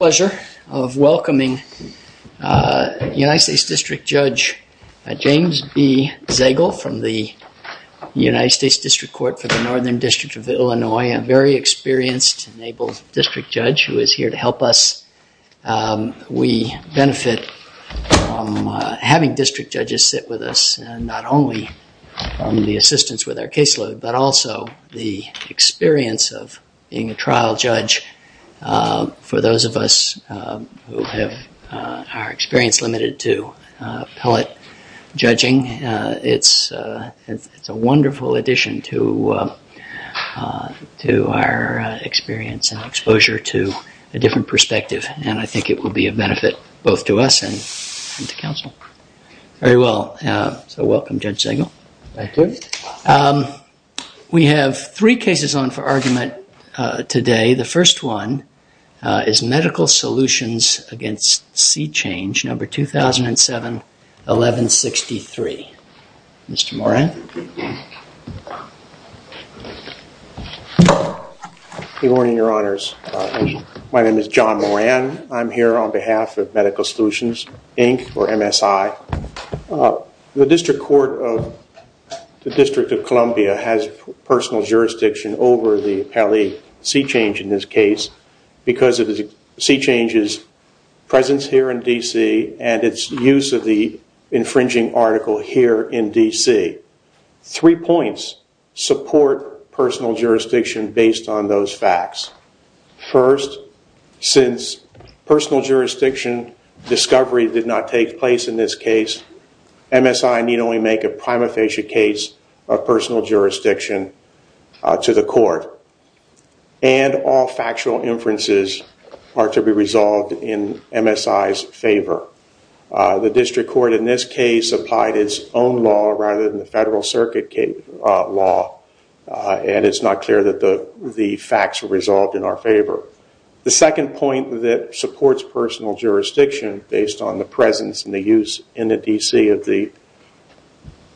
It is my pleasure of welcoming United States District Judge James B. Zagel from the United States District Court for the Northern District of Illinois, a very experienced and able district judge who is here to help us. We benefit from having district judges sit with us and not only on the assistance with our caseload but also the experience of being a trial judge. For those of us who have our experience limited to appellate judging, it's a wonderful addition to our experience and exposure to a different perspective and I think it will be a benefit both to us and to counsel. Very well, so welcome Judge Zagel. Thank you. We have three cases on for argument today. The first one is Medical Solutions v. C Change, number 2007-1163. Mr. Moran. Good morning, your honors. My name is John Moran. I'm here on behalf of Medical Solutions, Inc. or MSI. The District Court of the District of Columbia has personal jurisdiction over the appellate C Change in this case because of C Change's presence here in D.C. and its use of the infringing article here in D.C. Three points support personal jurisdiction based on those facts. First, since personal jurisdiction discovery did not take place in this case, MSI need only make a prima facie case of personal jurisdiction to the court. And all factual inferences are to be resolved in MSI's favor. The District Court in this case applied its own law rather than the Federal Circuit law and it's not clear that the facts were resolved in our favor. The second point that supports personal jurisdiction based on the presence and the use in the D.C. of the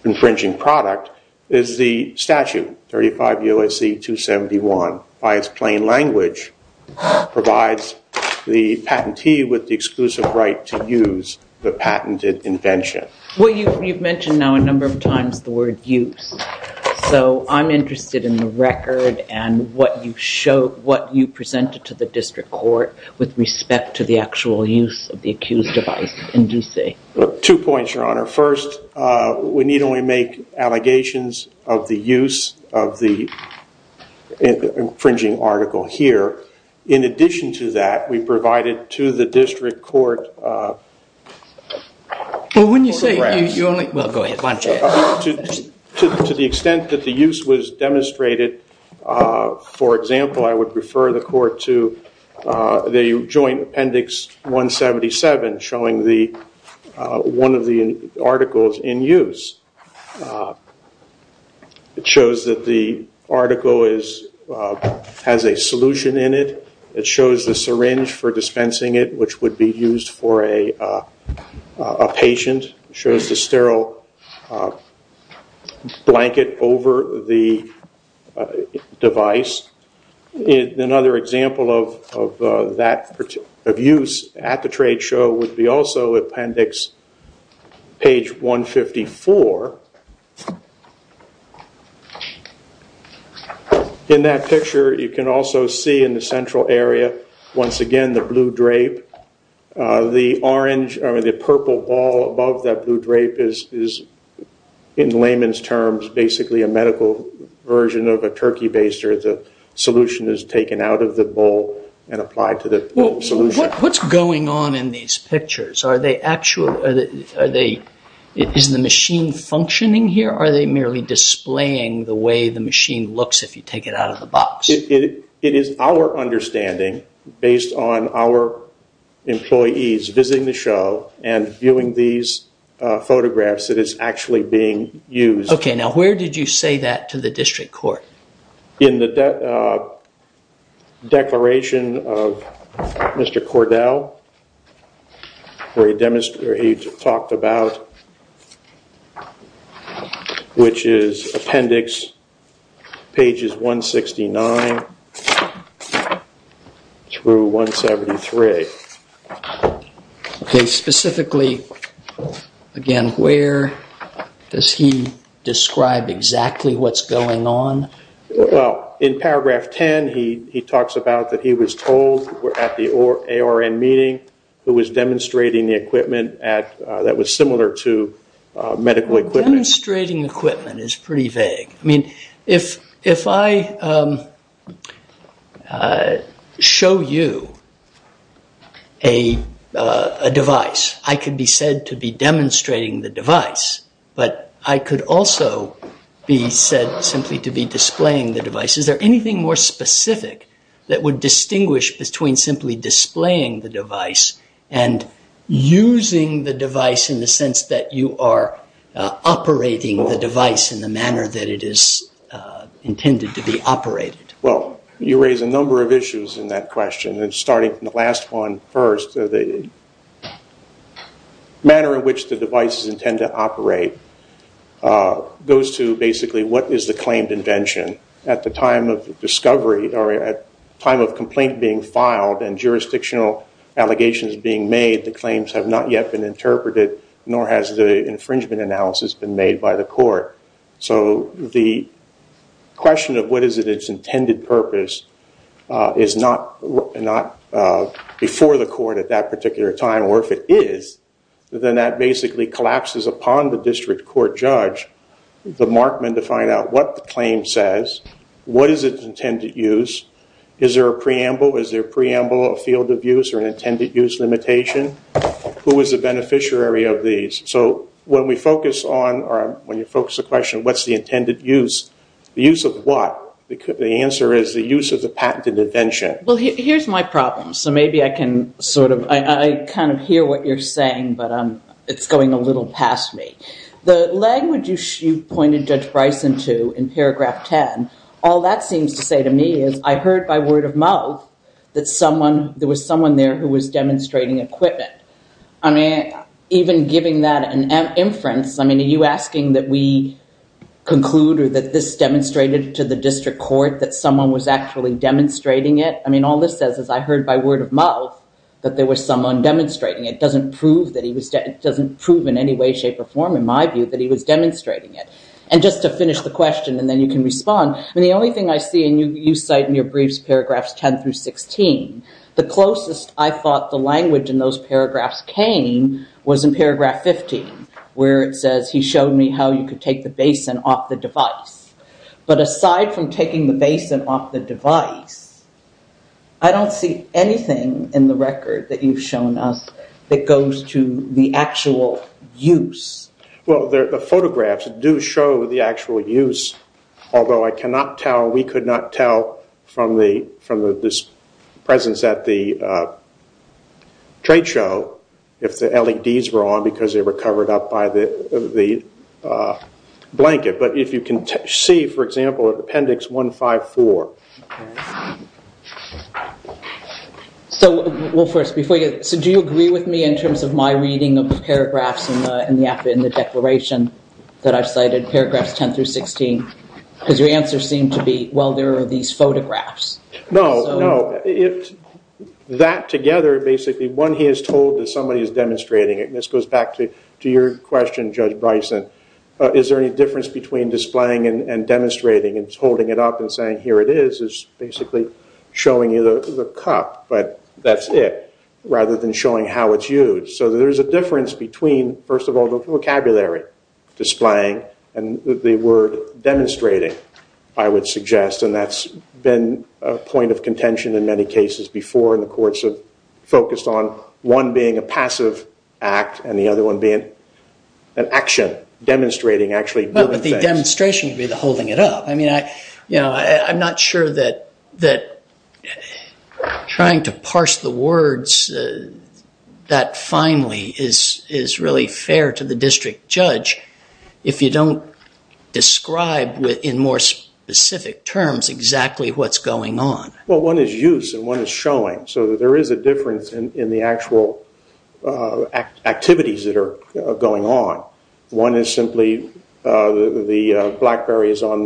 infringing product is the statute, 35 U.S.C. 271. By its plain language, provides the patentee with the exclusive right to use the patented invention. Well, you've mentioned now a number of times the word use. So I'm interested in the record and what you presented to the District Court with respect to the actual use of the accused device in D.C. Two points, Your Honor. First, we need only make allegations of the use of the infringing article here. In addition to that, we provided to the District Court to the extent that the use was demonstrated, for example, I would refer the court to the joint appendix 177 showing one of the articles in use. It shows that the article has a solution in it. It shows the syringe for dispensing it, which would be used for a patient. It shows the sterile blanket over the device. Another example of use at the trade show would be also appendix page 154. In that picture, you can also see in the central area, once again, the blue drape. The orange or the purple ball above that blue drape is, in layman's terms, basically a medical version of a turkey baster. The solution is taken out of the bowl and applied to the solution. What's going on in these pictures? Is the machine functioning here or are they merely displaying the way the machine looks if you take it out of the box? It is our understanding, based on our employees visiting the show and viewing these photographs, that it's actually being used. Where did you say that to the District Court? In the declaration of Mr. Cordell, where he talked about, which is appendix pages 169 through 173. Specifically, again, where does he describe exactly what's going on? In paragraph 10, he talks about that he was told at the ARN meeting, who was demonstrating the equipment that was similar to medical equipment. Demonstrating equipment is pretty vague. If I show you a device, I could be said to be demonstrating the device, but I could also be said simply to be displaying the device. Is there anything more specific that would distinguish between simply displaying the device and using the device in the sense that you are operating the device in the manner that it is intended to be operated? Well, you raise a number of issues in that question. Starting from the last one first, the manner in which the devices intend to operate goes to basically what is the claimed invention. At the time of discovery, or at the time of complaint being filed and jurisdictional allegations being made, the claims have not yet been interpreted, nor has the infringement analysis been made by the court. The question of what is its intended purpose is not before the court at that particular time. Or if it is, then that basically collapses upon the district court judge, the markman, to find out what the claim says, what is its intended use, is there a preamble, is there a preamble, a field of use, or an intended use limitation? Who is the beneficiary of these? When you focus the question, what's the intended use, the use of what? The answer is the use of the patented invention. Well, here's my problem, so maybe I can sort of, I kind of hear what you're saying, but it's going a little past me. The language you pointed Judge Bryson to in paragraph 10, all that seems to say to me is, I heard by word of mouth that there was someone there who was demonstrating equipment. I mean, even giving that an inference, I mean, are you asking that we conclude or that this demonstrated to the district court that someone was actually demonstrating it? I mean, all this says is I heard by word of mouth that there was someone demonstrating it. It doesn't prove in any way, shape, or form, in my view, that he was demonstrating it. And just to finish the question, and then you can respond, the only thing I see, and you cite in your briefs paragraphs 10 through 16, the closest I thought the language in those paragraphs came was in paragraph 15, where it says he showed me how you could take the basin off the device. But aside from taking the basin off the device, I don't see anything in the record that you've shown us that goes to the actual use. Well, the photographs do show the actual use, although I cannot tell, we could not tell from this presence at the trade show if the LEDs were on because they were covered up by the blanket. But if you can see, for example, in appendix 154. So do you agree with me in terms of my reading of the paragraphs in the declaration that I've cited, paragraphs 10 through 16? Because your answer seemed to be, well, there are these photographs. No, no. That together, basically, when he is told that somebody is demonstrating it, and this goes back to your question, Judge Bryson, is there any difference between displaying and demonstrating, and holding it up and saying, here it is, is basically showing you the cup, but that's it, rather than showing how it's used. So there is a difference between, first of all, the vocabulary, displaying, and the word demonstrating, I would suggest. And that's been a point of contention in many cases before, and the courts have focused on one being a passive act and the other one being an action, demonstrating actually doing things. Well, but the demonstration would be the holding it up. I mean, I'm not sure that trying to parse the words that finally is really fair to the district judge if you don't describe, in more specific terms, exactly what's going on. Well, one is use, and one is showing. So there is a difference in the actual activities that are going on. One is simply the BlackBerry is on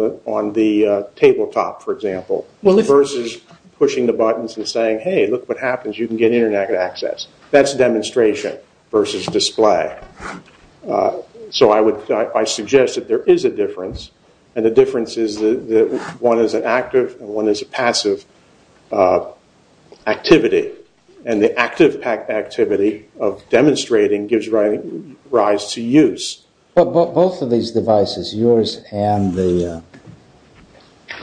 the tabletop, for example, versus pushing the buttons and saying, hey, look what happens, you can get internet access. That's demonstration versus display. So I suggest that there is a difference, and the difference is that one is an active and one is a passive activity, and the active activity of demonstrating gives rise to use. But both of these devices, yours and the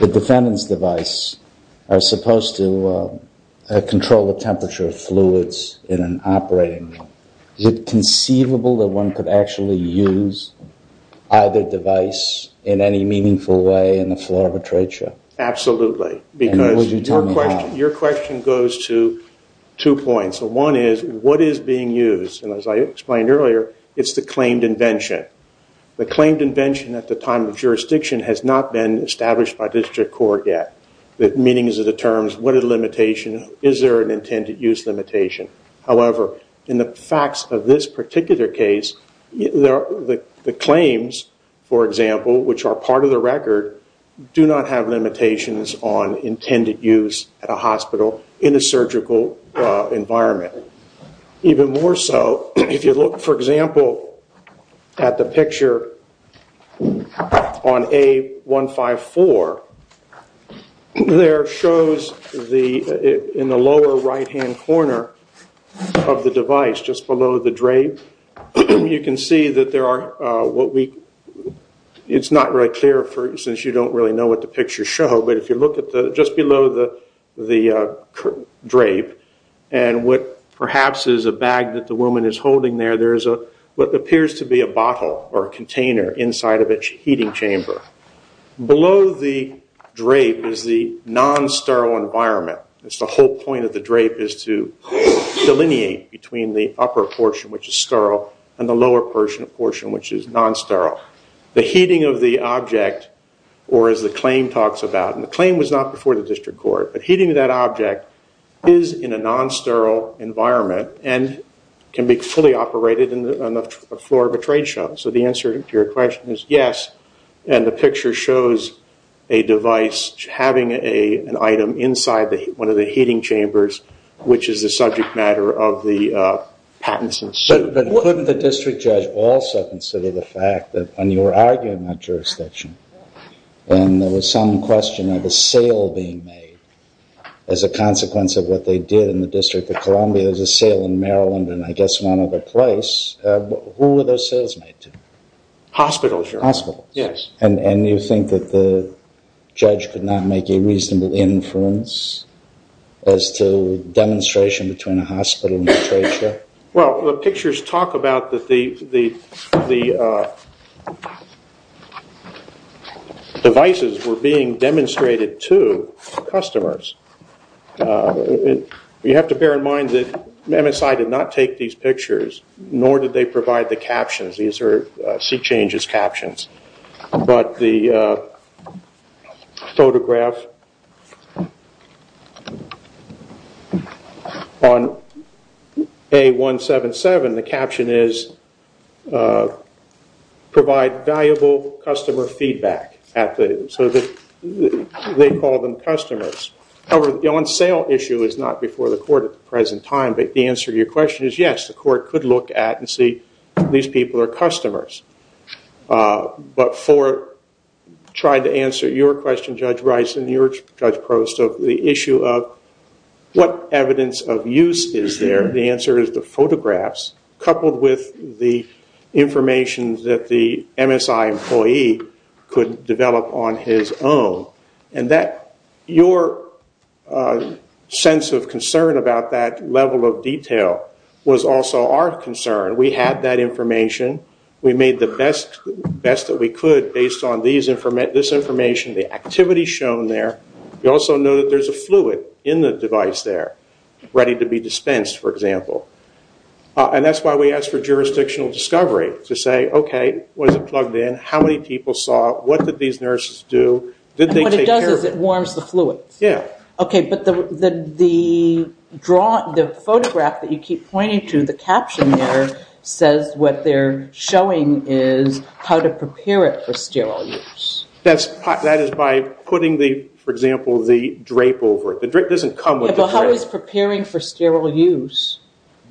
defendant's device, are supposed to control the temperature of fluids in an operating room. Is it conceivable that one could actually use either device in any meaningful way in the floor of a trade show? Absolutely, because your question goes to two points. One is, what is being used? And as I explained earlier, it's the claimed invention. The claimed invention at the time of jurisdiction has not been established by district court yet. The meanings of the terms, what are the limitations, is there an intended use limitation? However, in the facts of this particular case, the claims, for example, which are part of the record, do not have limitations on intended use at a hospital in a surgical environment. Even more so, if you look, for example, at the picture on A154, there shows in the lower right-hand corner of the device, just below the drape, you can see that there are, it's not really clear since you don't really know what the pictures show, but if you look just below the drape, and what perhaps is a bag that the woman is holding there, there is what appears to be a bottle or a container inside of its heating chamber. Below the drape is the non-sterile environment. It's the whole point of the drape is to delineate between the upper portion, which is sterile, and the lower portion, which is non-sterile. The heating of the object, or as the claim talks about, and the claim was not before the district court, but heating of that object is in a non-sterile environment and can be fully operated on the floor of a trade show. So the answer to your question is yes, and the picture shows a device having an item inside one of the heating chambers, which is a subject matter of the patents. But couldn't the district judge also consider the fact that, when you were arguing that jurisdiction, and there was some question of a sale being made as a consequence of what they did in the District of Columbia, there was a sale in Maryland and I guess one other place, who were those sales made to? Hospitals. Hospitals. Yes. And you think that the judge could not make a reasonable inference as to the demonstration between a hospital and a trade show? Well, the pictures talk about the devices were being demonstrated to customers. You have to bear in mind that MSI did not take these pictures, nor did they provide the captions. These are seat changes captions. But the photograph on A177, the caption is, provide valuable customer feedback. So they call them customers. The on sale issue is not before the court at the present time, but the answer to your question is yes, the court could look at and see these people are customers. But for trying to answer your question, Judge Rice, and your question, Judge Prost, the issue of what evidence of use is there, the answer is the photographs coupled with the information that the MSI employee could develop on his own. Your sense of concern about that level of detail was also our concern. We had that information. We made the best that we could based on this information, the activity shown there. We also know that there's a fluid in the device there ready to be dispensed, for example. And that's why we asked for jurisdictional discovery to say, okay, was it plugged in? How many people saw it? What did these nurses do? What it does is it warms the fluid. Yeah. Okay, but the photograph that you keep pointing to, the caption there, says what they're showing is how to prepare it for sterile use. That is by putting, for example, the drape over it. The drape doesn't come with the drape. Yeah, but how is preparing for sterile use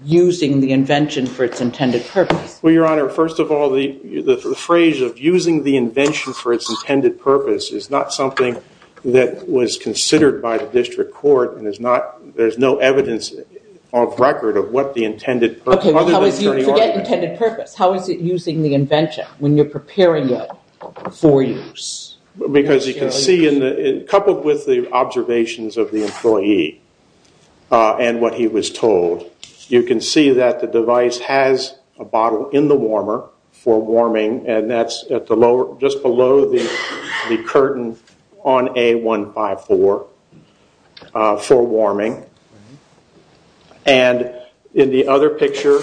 using the invention for its intended purpose? Well, Your Honor, first of all, the phrase of using the invention for its intended purpose is not something that was considered by the district court. There's no evidence on record of what the intended purpose is. Okay, but how is it using the invention when you're preparing it for use? Because you can see, coupled with the observations of the employee and what he was told, you can see that the device has a bottle in the warmer for warming, and that's just below the curtain on A154 for warming. And in the other picture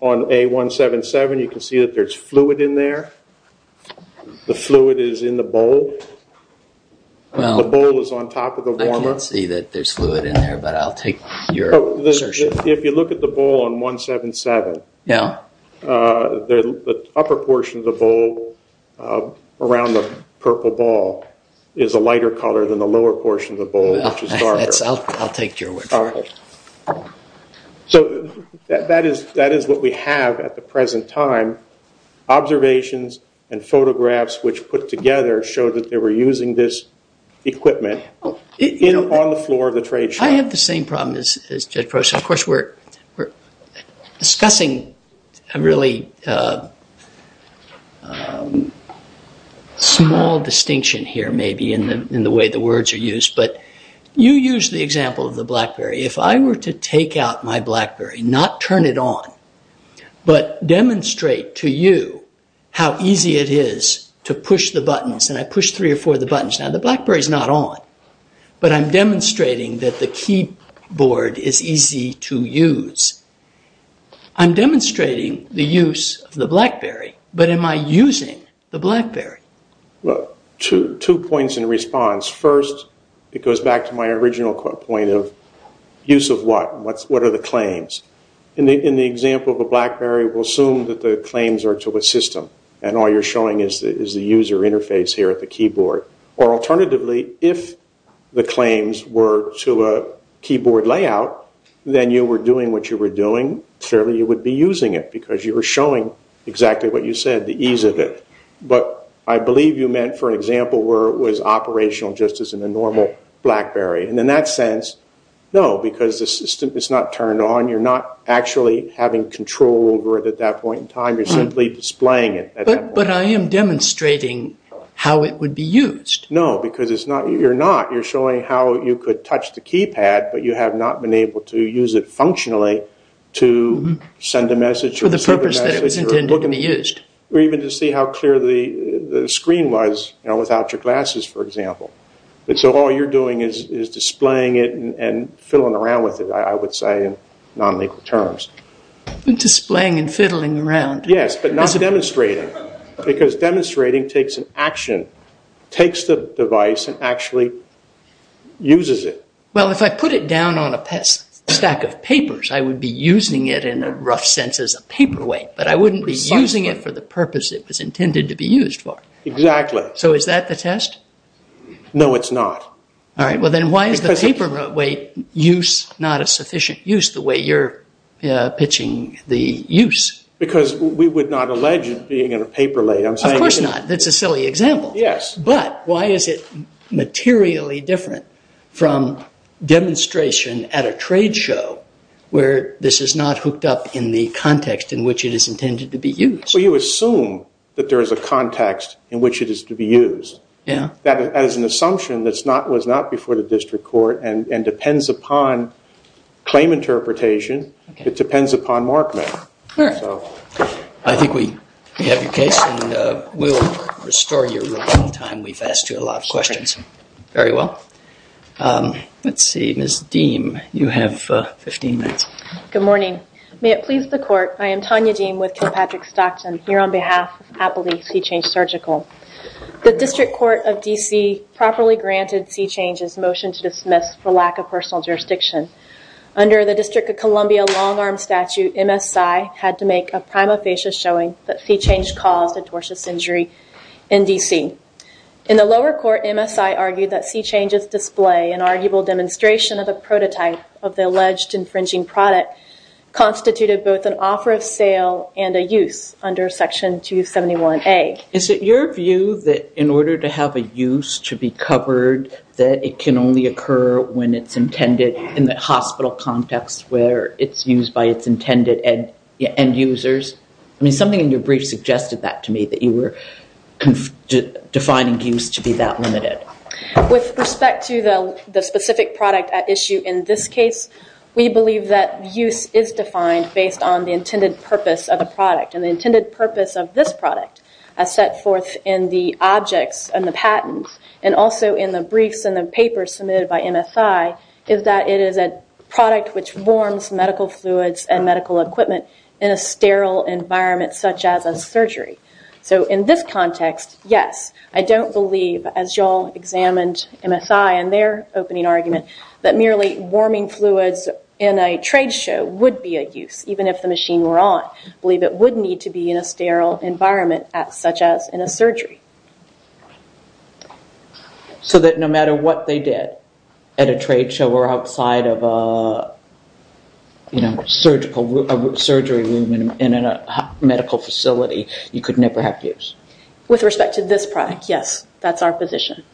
on A177, you can see that there's fluid in there. The fluid is in the bowl. The bowl is on top of the warmer. I can't see that there's fluid in there, but I'll take your assertion. If you look at the bowl on A177, the upper portion of the bowl around the purple ball is a lighter color than the lower portion of the bowl, which is darker. I'll take your word for it. So that is what we have at the present time. Observations and photographs which put together show that they were using this equipment on the floor of the trade show. I have the same problem as Judge Prosser. Of course, we're discussing a really small distinction here, maybe, in the way the words are used. But you used the example of the BlackBerry. If I were to take out my BlackBerry, not turn it on, but demonstrate to you how easy it is to push the buttons, and I push three or four of the buttons. Now, the BlackBerry is not on, but I'm demonstrating that the keyboard is easy to use. I'm demonstrating the use of the BlackBerry, but am I using the BlackBerry? Well, two points in response. First, it goes back to my original point of use of what. What are the claims? In the example of the BlackBerry, we'll assume that the claims are to a system, and all you're showing is the user interface here at the keyboard. Alternatively, if the claims were to a keyboard layout, then you were doing what you were doing. Clearly, you would be using it because you were showing exactly what you said, the ease of it. I believe you meant, for example, where it was operational just as in a normal BlackBerry. In that sense, no, because the system is not turned on. You're not actually having control over it at that point in time. You're simply displaying it. But I am demonstrating how it would be used. No, because you're not. You're showing how you could touch the keypad, but you have not been able to use it functionally to send a message or receive a message. For the purpose that it was intended to be used. Or even to see how clear the screen was without your glasses, for example. So all you're doing is displaying it and fiddling around with it, I would say, in non-legal terms. Displaying and fiddling around. Yes, but not demonstrating, because demonstrating takes an action, takes the device and actually uses it. Well, if I put it down on a stack of papers, I would be using it in a rough sense as a paperweight, but I wouldn't be using it for the purpose it was intended to be used for. Exactly. So is that the test? No, it's not. All right. Well, then why is the paperweight use not a sufficient use the way you're pitching the use? Because we would not allege it being in a paperweight. Of course not. That's a silly example. Yes. But why is it materially different from demonstration at a trade show where this is not hooked up in the context in which it is intended to be used? Well, you assume that there is a context in which it is to be used. Yes. That is an assumption that was not before the district court and depends upon claim interpretation. Okay. It depends upon Markman. All right. So I think we have your case, and we'll restore your roll in time. We've asked you a lot of questions. Very well. Let's see. Ms. Deem, you have 15 minutes. Good morning. May it please the court, I am Tanya Deem with King Patrick Stockton here on behalf of Appley Seachange Surgical. The district court of D.C. properly granted Seachange's motion to dismiss for lack of personal jurisdiction. Under the District of Columbia long-arm statute, MSI had to make a prima facie showing that Seachange caused a tortuous injury in D.C. In the lower court, MSI argued that Seachange's display, an arguable demonstration of a prototype of the alleged infringing product, constituted both an offer of sale and a use under Section 271A. Is it your view that in order to have a use to be covered, that it can only occur when it's intended in the hospital context where it's used by its intended end users? I mean, something in your brief suggested that to me, that you were defining use to be that limited. With respect to the specific product at issue in this case, we believe that use is defined based on the intended purpose of the product. And the intended purpose of this product, as set forth in the objects and the patents, and also in the briefs and the papers submitted by MSI, is that it is a product which warms medical fluids and medical equipment in a sterile environment, such as a surgery. So in this context, yes, I don't believe, as you all examined MSI in their opening argument, that merely warming fluids in a trade show would be a use, even if the machine were on. I believe it would need to be in a sterile environment, such as in a surgery. So that no matter what they did at a trade show or outside of a surgery room in a medical facility, you could never have use? With respect to this product, yes, that's our position.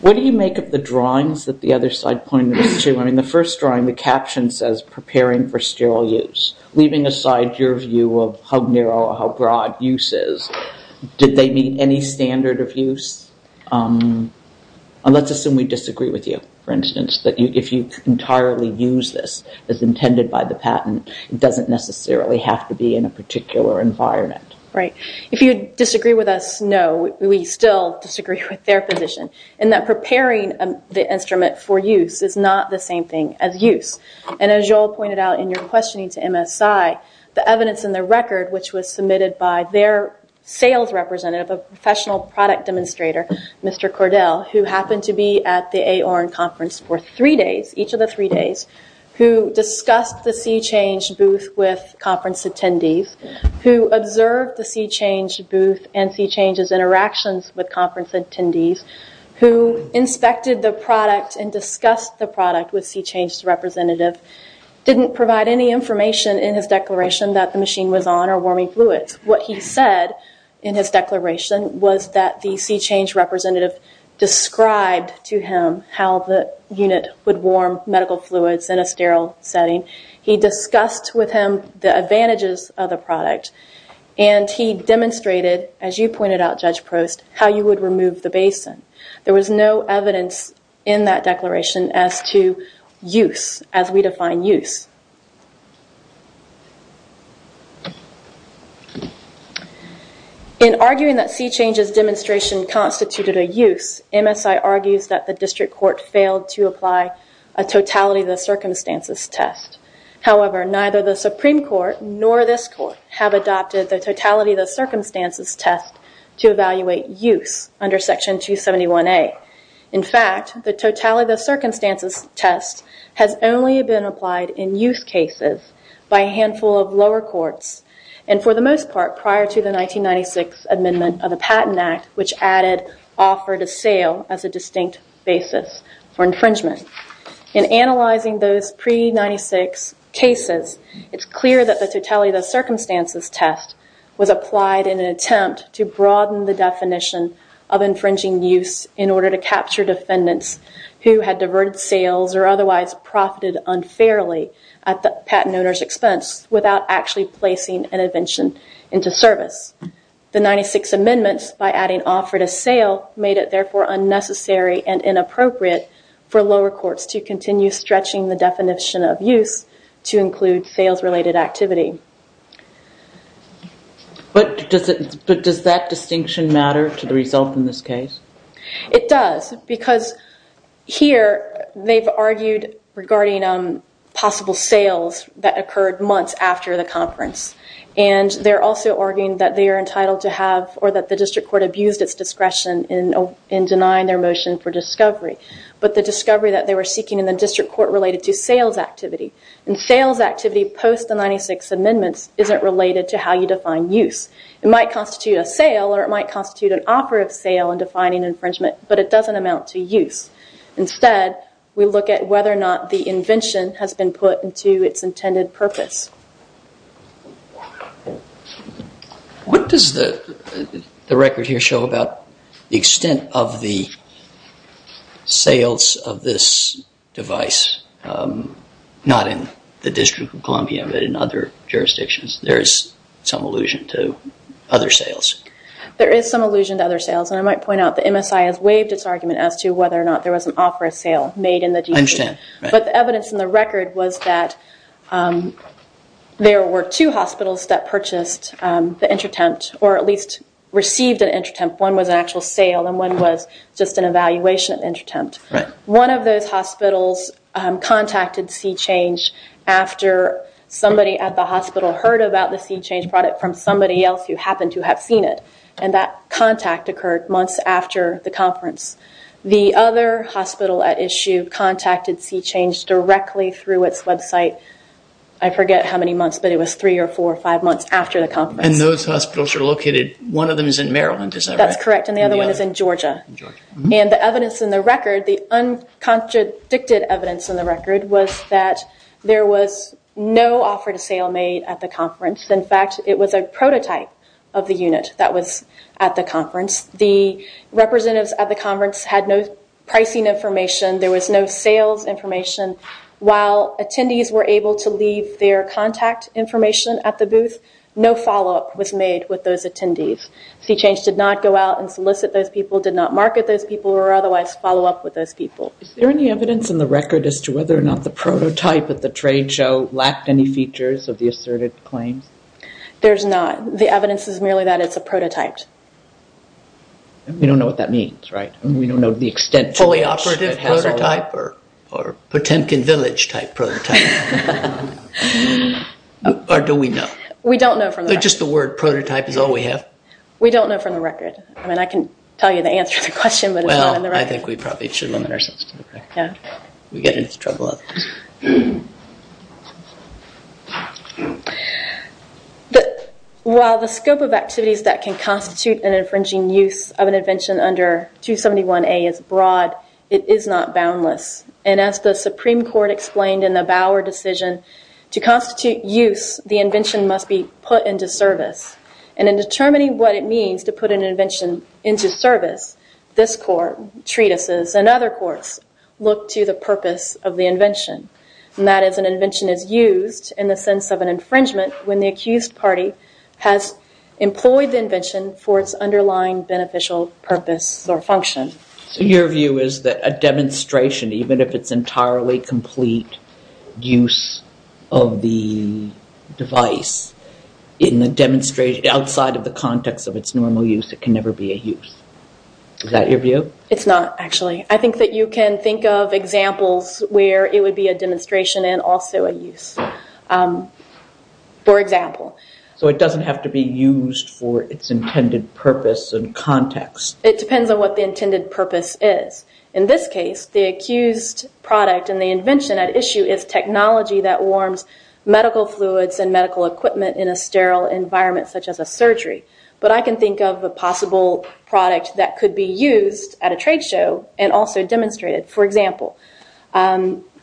What do you make of the drawings that the other side pointed to? In the first drawing, the caption says, preparing for sterile use. Leaving aside your view of how narrow or how broad use is, did they meet any standard of use? Let's assume we disagree with you, for instance, that if you entirely use this as intended by the patent, it doesn't necessarily have to be in a particular environment. Right. If you disagree with us, no, we still disagree with their position. And that preparing the instrument for use is not the same thing as use. And as you all pointed out in your questioning to MSI, the evidence in the record, which was submitted by their sales representative, a professional product demonstrator, Mr. Cordell, who happened to be at the AORN conference for three days, each of the three days, who discussed the C-Change booth with conference attendees, who observed the C-Change booth and C-Change's interactions with conference attendees, who inspected the product and discussed the product with C-Change's representative, didn't provide any information in his declaration that the machine was on or warming fluids. What he said in his declaration was that the C-Change representative described to him how the unit would warm medical fluids in a sterile setting. He discussed with him the advantages of the product. And he demonstrated, as you pointed out, Judge Prost, how you would remove the basin. There was no evidence in that declaration as to use, as we define use. In arguing that C-Change's demonstration constituted a use, MSI argues that the district court failed to apply a totality of the circumstances test. However, neither the Supreme Court nor this court have adopted the totality of the circumstances test to evaluate use under Section 271A. In fact, the totality of the circumstances test has only been applied in use cases by a handful of lower courts and, for the most part, prior to the 1996 Amendment of the Patent Act, which added offer to sale as a distinct basis for infringement. In analyzing those pre-96 cases, it's clear that the totality of the circumstances test was applied in an attempt to broaden the definition of infringing use in order to capture defendants who had diverted sales or otherwise profited unfairly at the patent owner's expense without actually placing an invention into service. The 96 Amendments, by adding offer to sale, made it therefore unnecessary and inappropriate for lower courts to continue stretching the definition of use to include sales-related activity. But does that distinction matter to the result in this case? It does because here they've argued regarding possible sales that occurred months after the conference and they're also arguing that they are entitled to have or that the district court abused its discretion in denying their motion for discovery, but the discovery that they were seeking in the district court related to sales activity. And sales activity post the 96 Amendments isn't related to how you define use. It might constitute a sale or it might constitute an offer of sale in defining infringement, but it doesn't amount to use. Instead, we look at whether or not the invention has been put into its intended purpose. What does the record here show about the extent of the sales of this device, not in the District of Columbia but in other jurisdictions? There is some allusion to other sales. There is some allusion to other sales and I might point out the MSI has waived its argument as to whether or not there was an offer of sale made in the DC. I understand. But the evidence in the record was that there were two hospitals that purchased the InterTemp or at least received an InterTemp. One was an actual sale and one was just an evaluation of InterTemp. One of those hospitals contacted C-Change after somebody at the hospital heard about the C-Change product from somebody else who happened to have seen it and that contact occurred months after the conference. The other hospital at issue contacted C-Change directly through its website. I forget how many months, but it was three or four or five months after the conference. And those hospitals are located, one of them is in Maryland, is that right? That's correct and the other one is in Georgia. And the evidence in the record, the uncontradicted evidence in the record, was that there was no offer to sale made at the conference. In fact, it was a prototype of the unit that was at the conference. The representatives at the conference had no pricing information. There was no sales information. While attendees were able to leave their contact information at the booth, no follow-up was made with those attendees. C-Change did not go out and solicit those people, did not market those people or otherwise follow up with those people. Is there any evidence in the record as to whether or not the prototype at the trade show lacked any features of the asserted claims? There's not. The evidence is merely that it's a prototype. We don't know what that means, right? We don't know the extent to which it has a... A fully operative prototype or Potemkin Village type prototype? Or do we know? We don't know from the record. Just the word prototype is all we have? We don't know from the record. I mean, I can tell you the answer to the question, but it's not in the record. Well, I think we probably should limit ourselves to the record. We get into trouble. While the scope of activities that can constitute an infringing use of an invention under 271A is broad, it is not boundless. And as the Supreme Court explained in the Bauer decision, to constitute use, the invention must be put into service. And in determining what it means to put an invention into service, this court, treatises and other courts look to the purpose of the invention and that is an invention is used in the sense of an infringement when the accused party has employed the invention for its underlying beneficial purpose or function. So your view is that a demonstration, even if it's entirely complete use of the device, in the demonstration, outside of the context of its normal use, it can never be a use. Is that your view? It's not, actually. I think that you can think of examples where it would be a demonstration and also a use, for example. So it doesn't have to be used for its intended purpose and context. It depends on what the intended purpose is. In this case, the accused product and the invention at issue is technology that warms medical fluids and medical equipment in a sterile environment, such as a surgery. But I can think of a possible product that could be used at a trade show and also demonstrated. For example,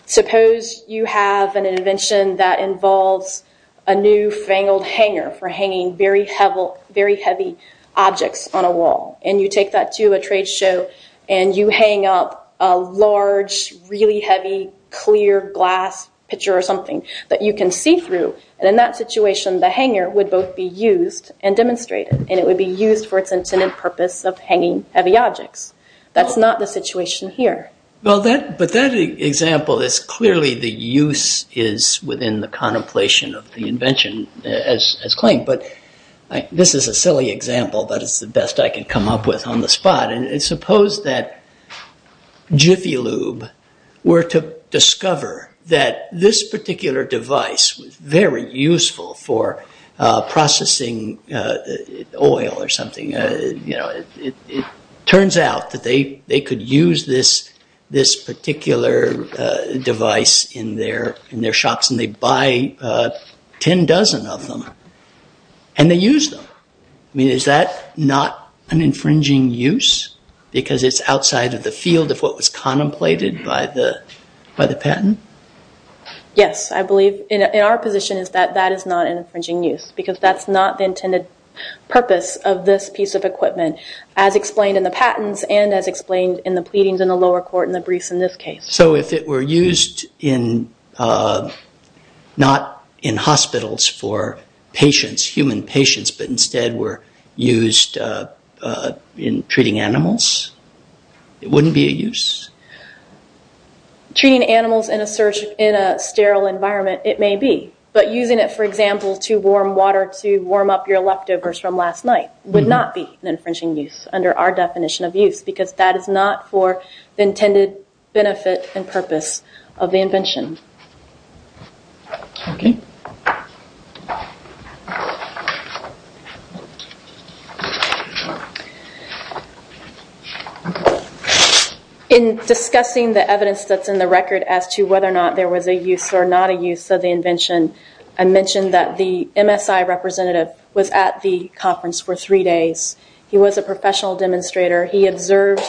suppose you have an invention that involves a new fangled hanger for hanging very heavy objects on a wall and you take that to a trade show and you hang up a large, really heavy, clear glass picture or something that you can see through. In that situation, the hanger would both be used and demonstrated and it would be used for its intended purpose of hanging heavy objects. That's not the situation here. Well, but that example is clearly the use is within the contemplation of the invention as claimed. But this is a silly example, but it's the best I can come up with on the spot. And suppose that Jiffy Lube were to discover that this particular device was very useful for processing oil or something. It turns out that they could use this particular device in their shops and they buy ten dozen of them and they use them. I mean, is that not an infringing use because it's outside of the field of what was contemplated by the patent? Yes, I believe. And our position is that that is not an infringing use because that's not the intended purpose of this piece of equipment as explained in the patents and as explained in the pleadings in the lower court in the briefs in this case. So if it were used not in hospitals for patients, human patients, but instead were used in treating animals, it wouldn't be a use? Treating animals in a sterile environment, it may be. But using it, for example, to warm water to warm up your leftovers from last night would not be an infringing use under our definition of use because that is not for the intended benefit and purpose of the invention. In discussing the evidence that's in the record as to whether or not there was a use or not a use of the invention, I mentioned that the MSI representative was at the conference for three days. He was a professional demonstrator. He observed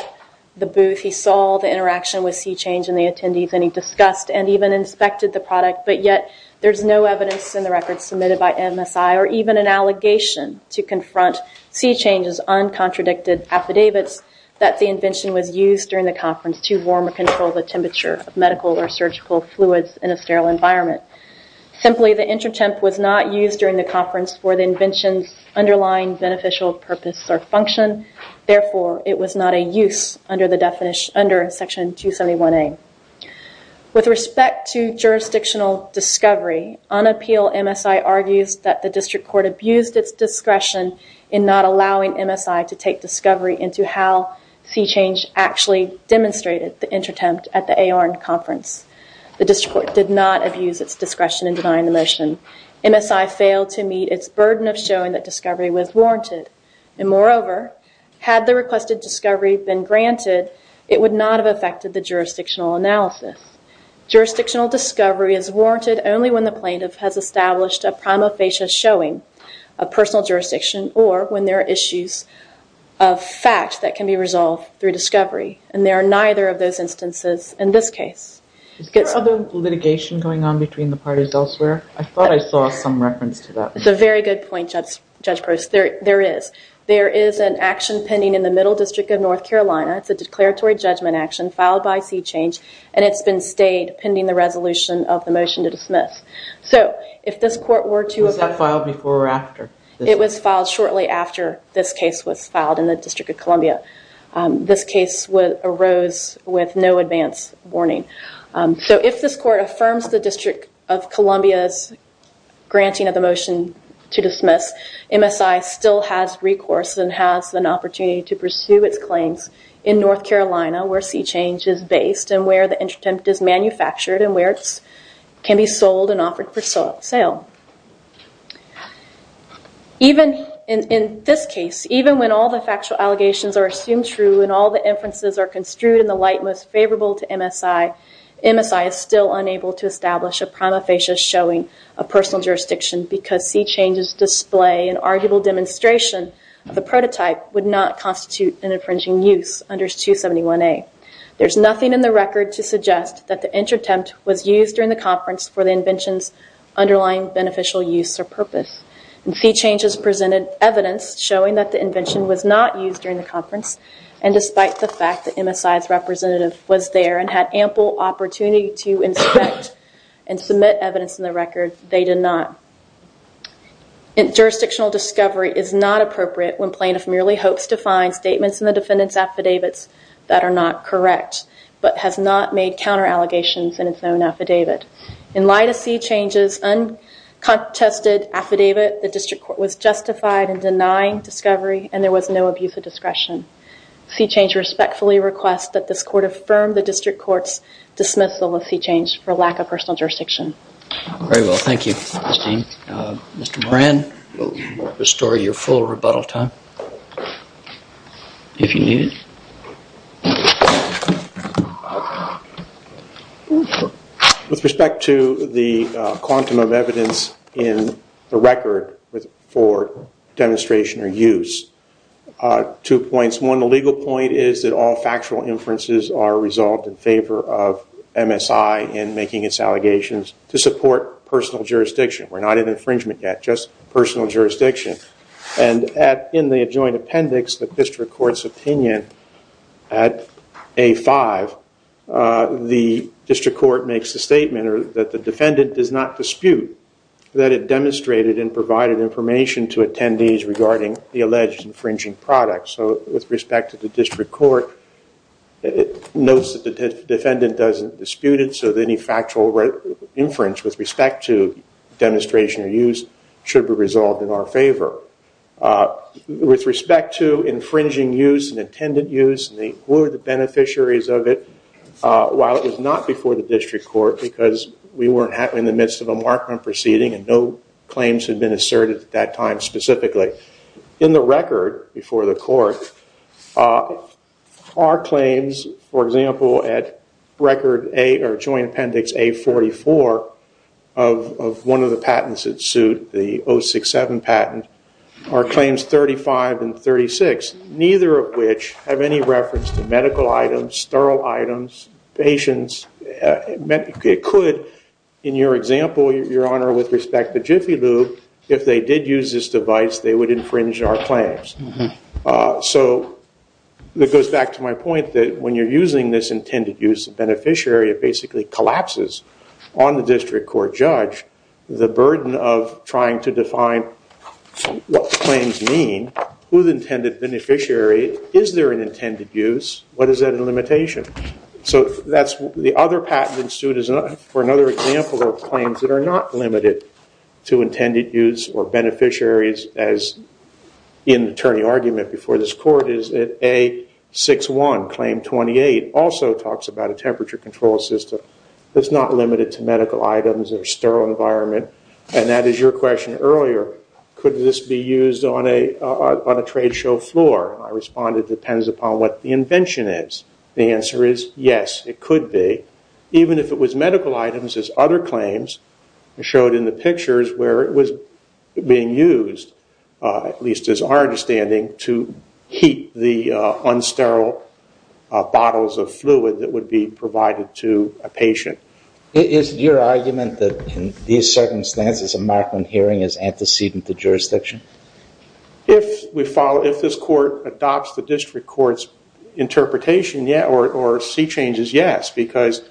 the booth. He saw the interaction with C-Change and the attendees and he discussed and even inspected the product, but yet there's no evidence in the record submitted by MSI or even an allegation to confront C-Change's uncontradicted affidavits that the invention was used during the conference to warm or control the temperature of medical or surgical fluids in a sterile environment. Simply, the intertemp was not used during the conference for the invention's underlying beneficial purpose or function. Therefore, it was not a use under Section 271A. With respect to jurisdictional discovery, on appeal MSI argues that the district court abused its discretion in not allowing MSI to take discovery into how C-Change actually demonstrated the intertemp at the ARN conference. The district court did not abuse its discretion in denying the motion. MSI failed to meet its burden of showing that discovery was warranted. Moreover, had the requested discovery been granted, it would not have affected the jurisdictional analysis. Jurisdictional discovery is warranted only when the plaintiff has established a prima facie showing of personal jurisdiction or when there are issues of fact that can be resolved through discovery. And there are neither of those instances in this case. Is there other litigation going on between the parties elsewhere? I thought I saw some reference to that. That's a very good point, Judge Gross. There is. There is an action pending in the Middle District of North Carolina. It's a declaratory judgment action filed by C-Change and it's been stayed pending the resolution of the motion to dismiss. So if this court were to... Was that filed before or after? It was filed shortly after this case was filed in the District of Columbia. This case arose with no advance warning. So if this court affirms the District of Columbia's granting of the motion to dismiss, MSI still has recourse and has an opportunity to pursue its claims in North Carolina where C-Change is based and where the intertemp is manufactured and where it can be sold and offered for sale. In this case, even when all the factual allegations are assumed true and all the inferences are construed in the light most favorable to MSI, MSI is still unable to establish a prima facie showing of personal jurisdiction because C-Change's display and arguable demonstration of the prototype would not constitute an infringing use under 271A. There's nothing in the record to suggest that the intertemp was used during the conference for the invention's underlying beneficial use or purpose. C-Change has presented evidence showing that the invention was not used during the conference and despite the fact that MSI's representative was there and had ample opportunity to inspect and submit evidence in the record, they did not. Jurisdictional discovery is not appropriate when plaintiff merely hopes to find statements in the defendant's affidavits that are not correct but has not made counter allegations in its own affidavit. In light of C-Change's uncontested affidavit, the district court was justified in denying discovery and there was no abuse of discretion. C-Change respectfully requests that this court affirm the district court's dismissal of C-Change for lack of personal jurisdiction. Very well. Thank you, Christine. Mr. Moran, we'll restore your full rebuttal time if you need it. With respect to the quantum of evidence in the record for demonstration or use, two points. One, the legal point is that all factual inferences are resolved in favor of MSI in making its allegations to support personal jurisdiction. We're not in infringement yet, just personal jurisdiction. And in the adjoined appendix, the district court's opinion at A-5, the district court makes a statement that the defendant does not dispute that it demonstrated and provided information to attendees regarding the alleged infringing product. So with respect to the district court, it notes that the defendant doesn't dispute it, so any factual inference with respect to demonstration or use should be resolved in our favor. With respect to infringing use and intended use, who are the beneficiaries of it? While it was not before the district court because we were in the midst of a mark-up proceeding and no claims had been asserted at that time specifically. In the record before the court, our claims, for example, at joint appendix A-44 of one of the patents that sued, the 067 patent, are claims 35 and 36, neither of which have any reference to medical items, sterile items, patients. It could, in your example, Your Honor, with respect to Jiffy Lube, if they did use this device, they would infringe our claims. So that goes back to my point that when you're using this intended use, the beneficiary basically collapses on the district court judge the burden of trying to define what claims mean, who the intended beneficiary, is there an intended use, what is that limitation? So the other patent that sued for another example of claims that are not limited to intended use or beneficiaries, as in the attorney argument before this court, is that A-61, claim 28, also talks about a temperature control system that's not limited to medical items or sterile environment. And that is your question earlier, could this be used on a trade show floor? I respond, it depends upon what the invention is. The answer is yes, it could be, even if it was medical items as other claims showed in the pictures where it was being used, at least as our understanding, to heat the unsterile bottles of fluid that would be provided to a patient. Is your argument that in these circumstances a Markman hearing is antecedent to jurisdiction? If this court adopts the district court's interpretation, or see changes, yes, because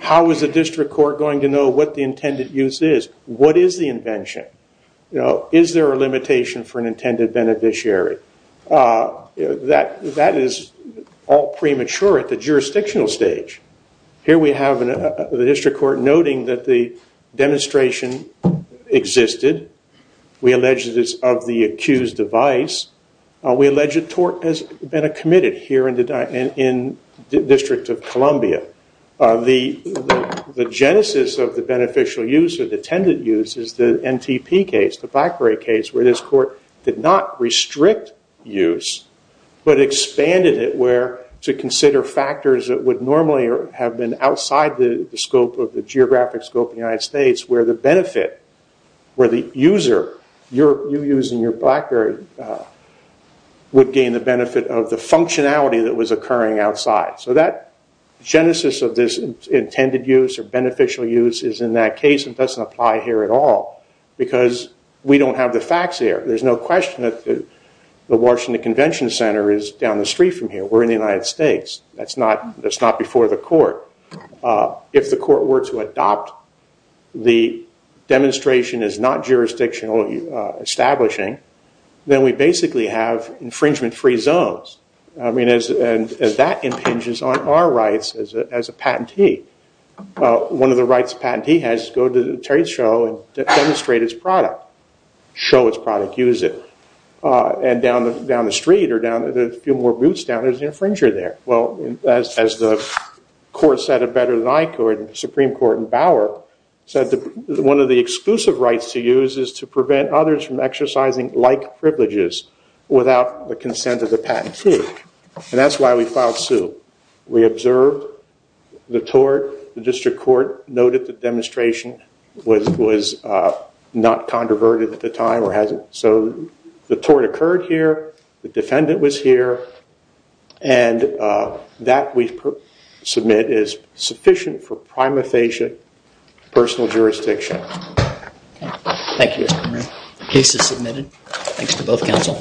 how is the district court going to know what the intended use is? What is the invention? Is there a limitation for an intended beneficiary? That is all premature at the jurisdictional stage. Here we have the district court noting that the demonstration existed. We allege that it's of the accused device. We allege that tort has been committed here in the District of Columbia. The genesis of the beneficial use or the intended use is the NTP case, the Blackberry case, where this court did not restrict use, but expanded it to consider factors that would normally have been outside the geographic scope of the United States, where the benefit, where the user, you using your Blackberry, would gain the benefit of the functionality that was occurring outside. So that genesis of this intended use or beneficial use is in that case and doesn't apply here at all because we don't have the facts here. There's no question that the Washington Convention Center is down the street from here. We're in the United States. That's not before the court. If the court were to adopt the demonstration as not jurisdictional establishing, then we basically have infringement-free zones. I mean, as that impinges on our rights as a patentee. One of the rights a patentee has is go to the trade show and demonstrate its product, show its product, use it. And down the street or down a few more boots down, there's an infringer there. Well, as the court said it better than I could, the Supreme Court in Bauer, said that one of the exclusive rights to use is to prevent others from exercising like privileges without the consent of the patentee. And that's why we filed suit. We observed the tort. The district court noted the demonstration was not controverted at the time or hasn't. So the tort occurred here. The defendant was here. And that we submit is sufficient for prima facie personal jurisdiction. Thank you, Mr. Murray. The case is submitted. Thanks to both counsel.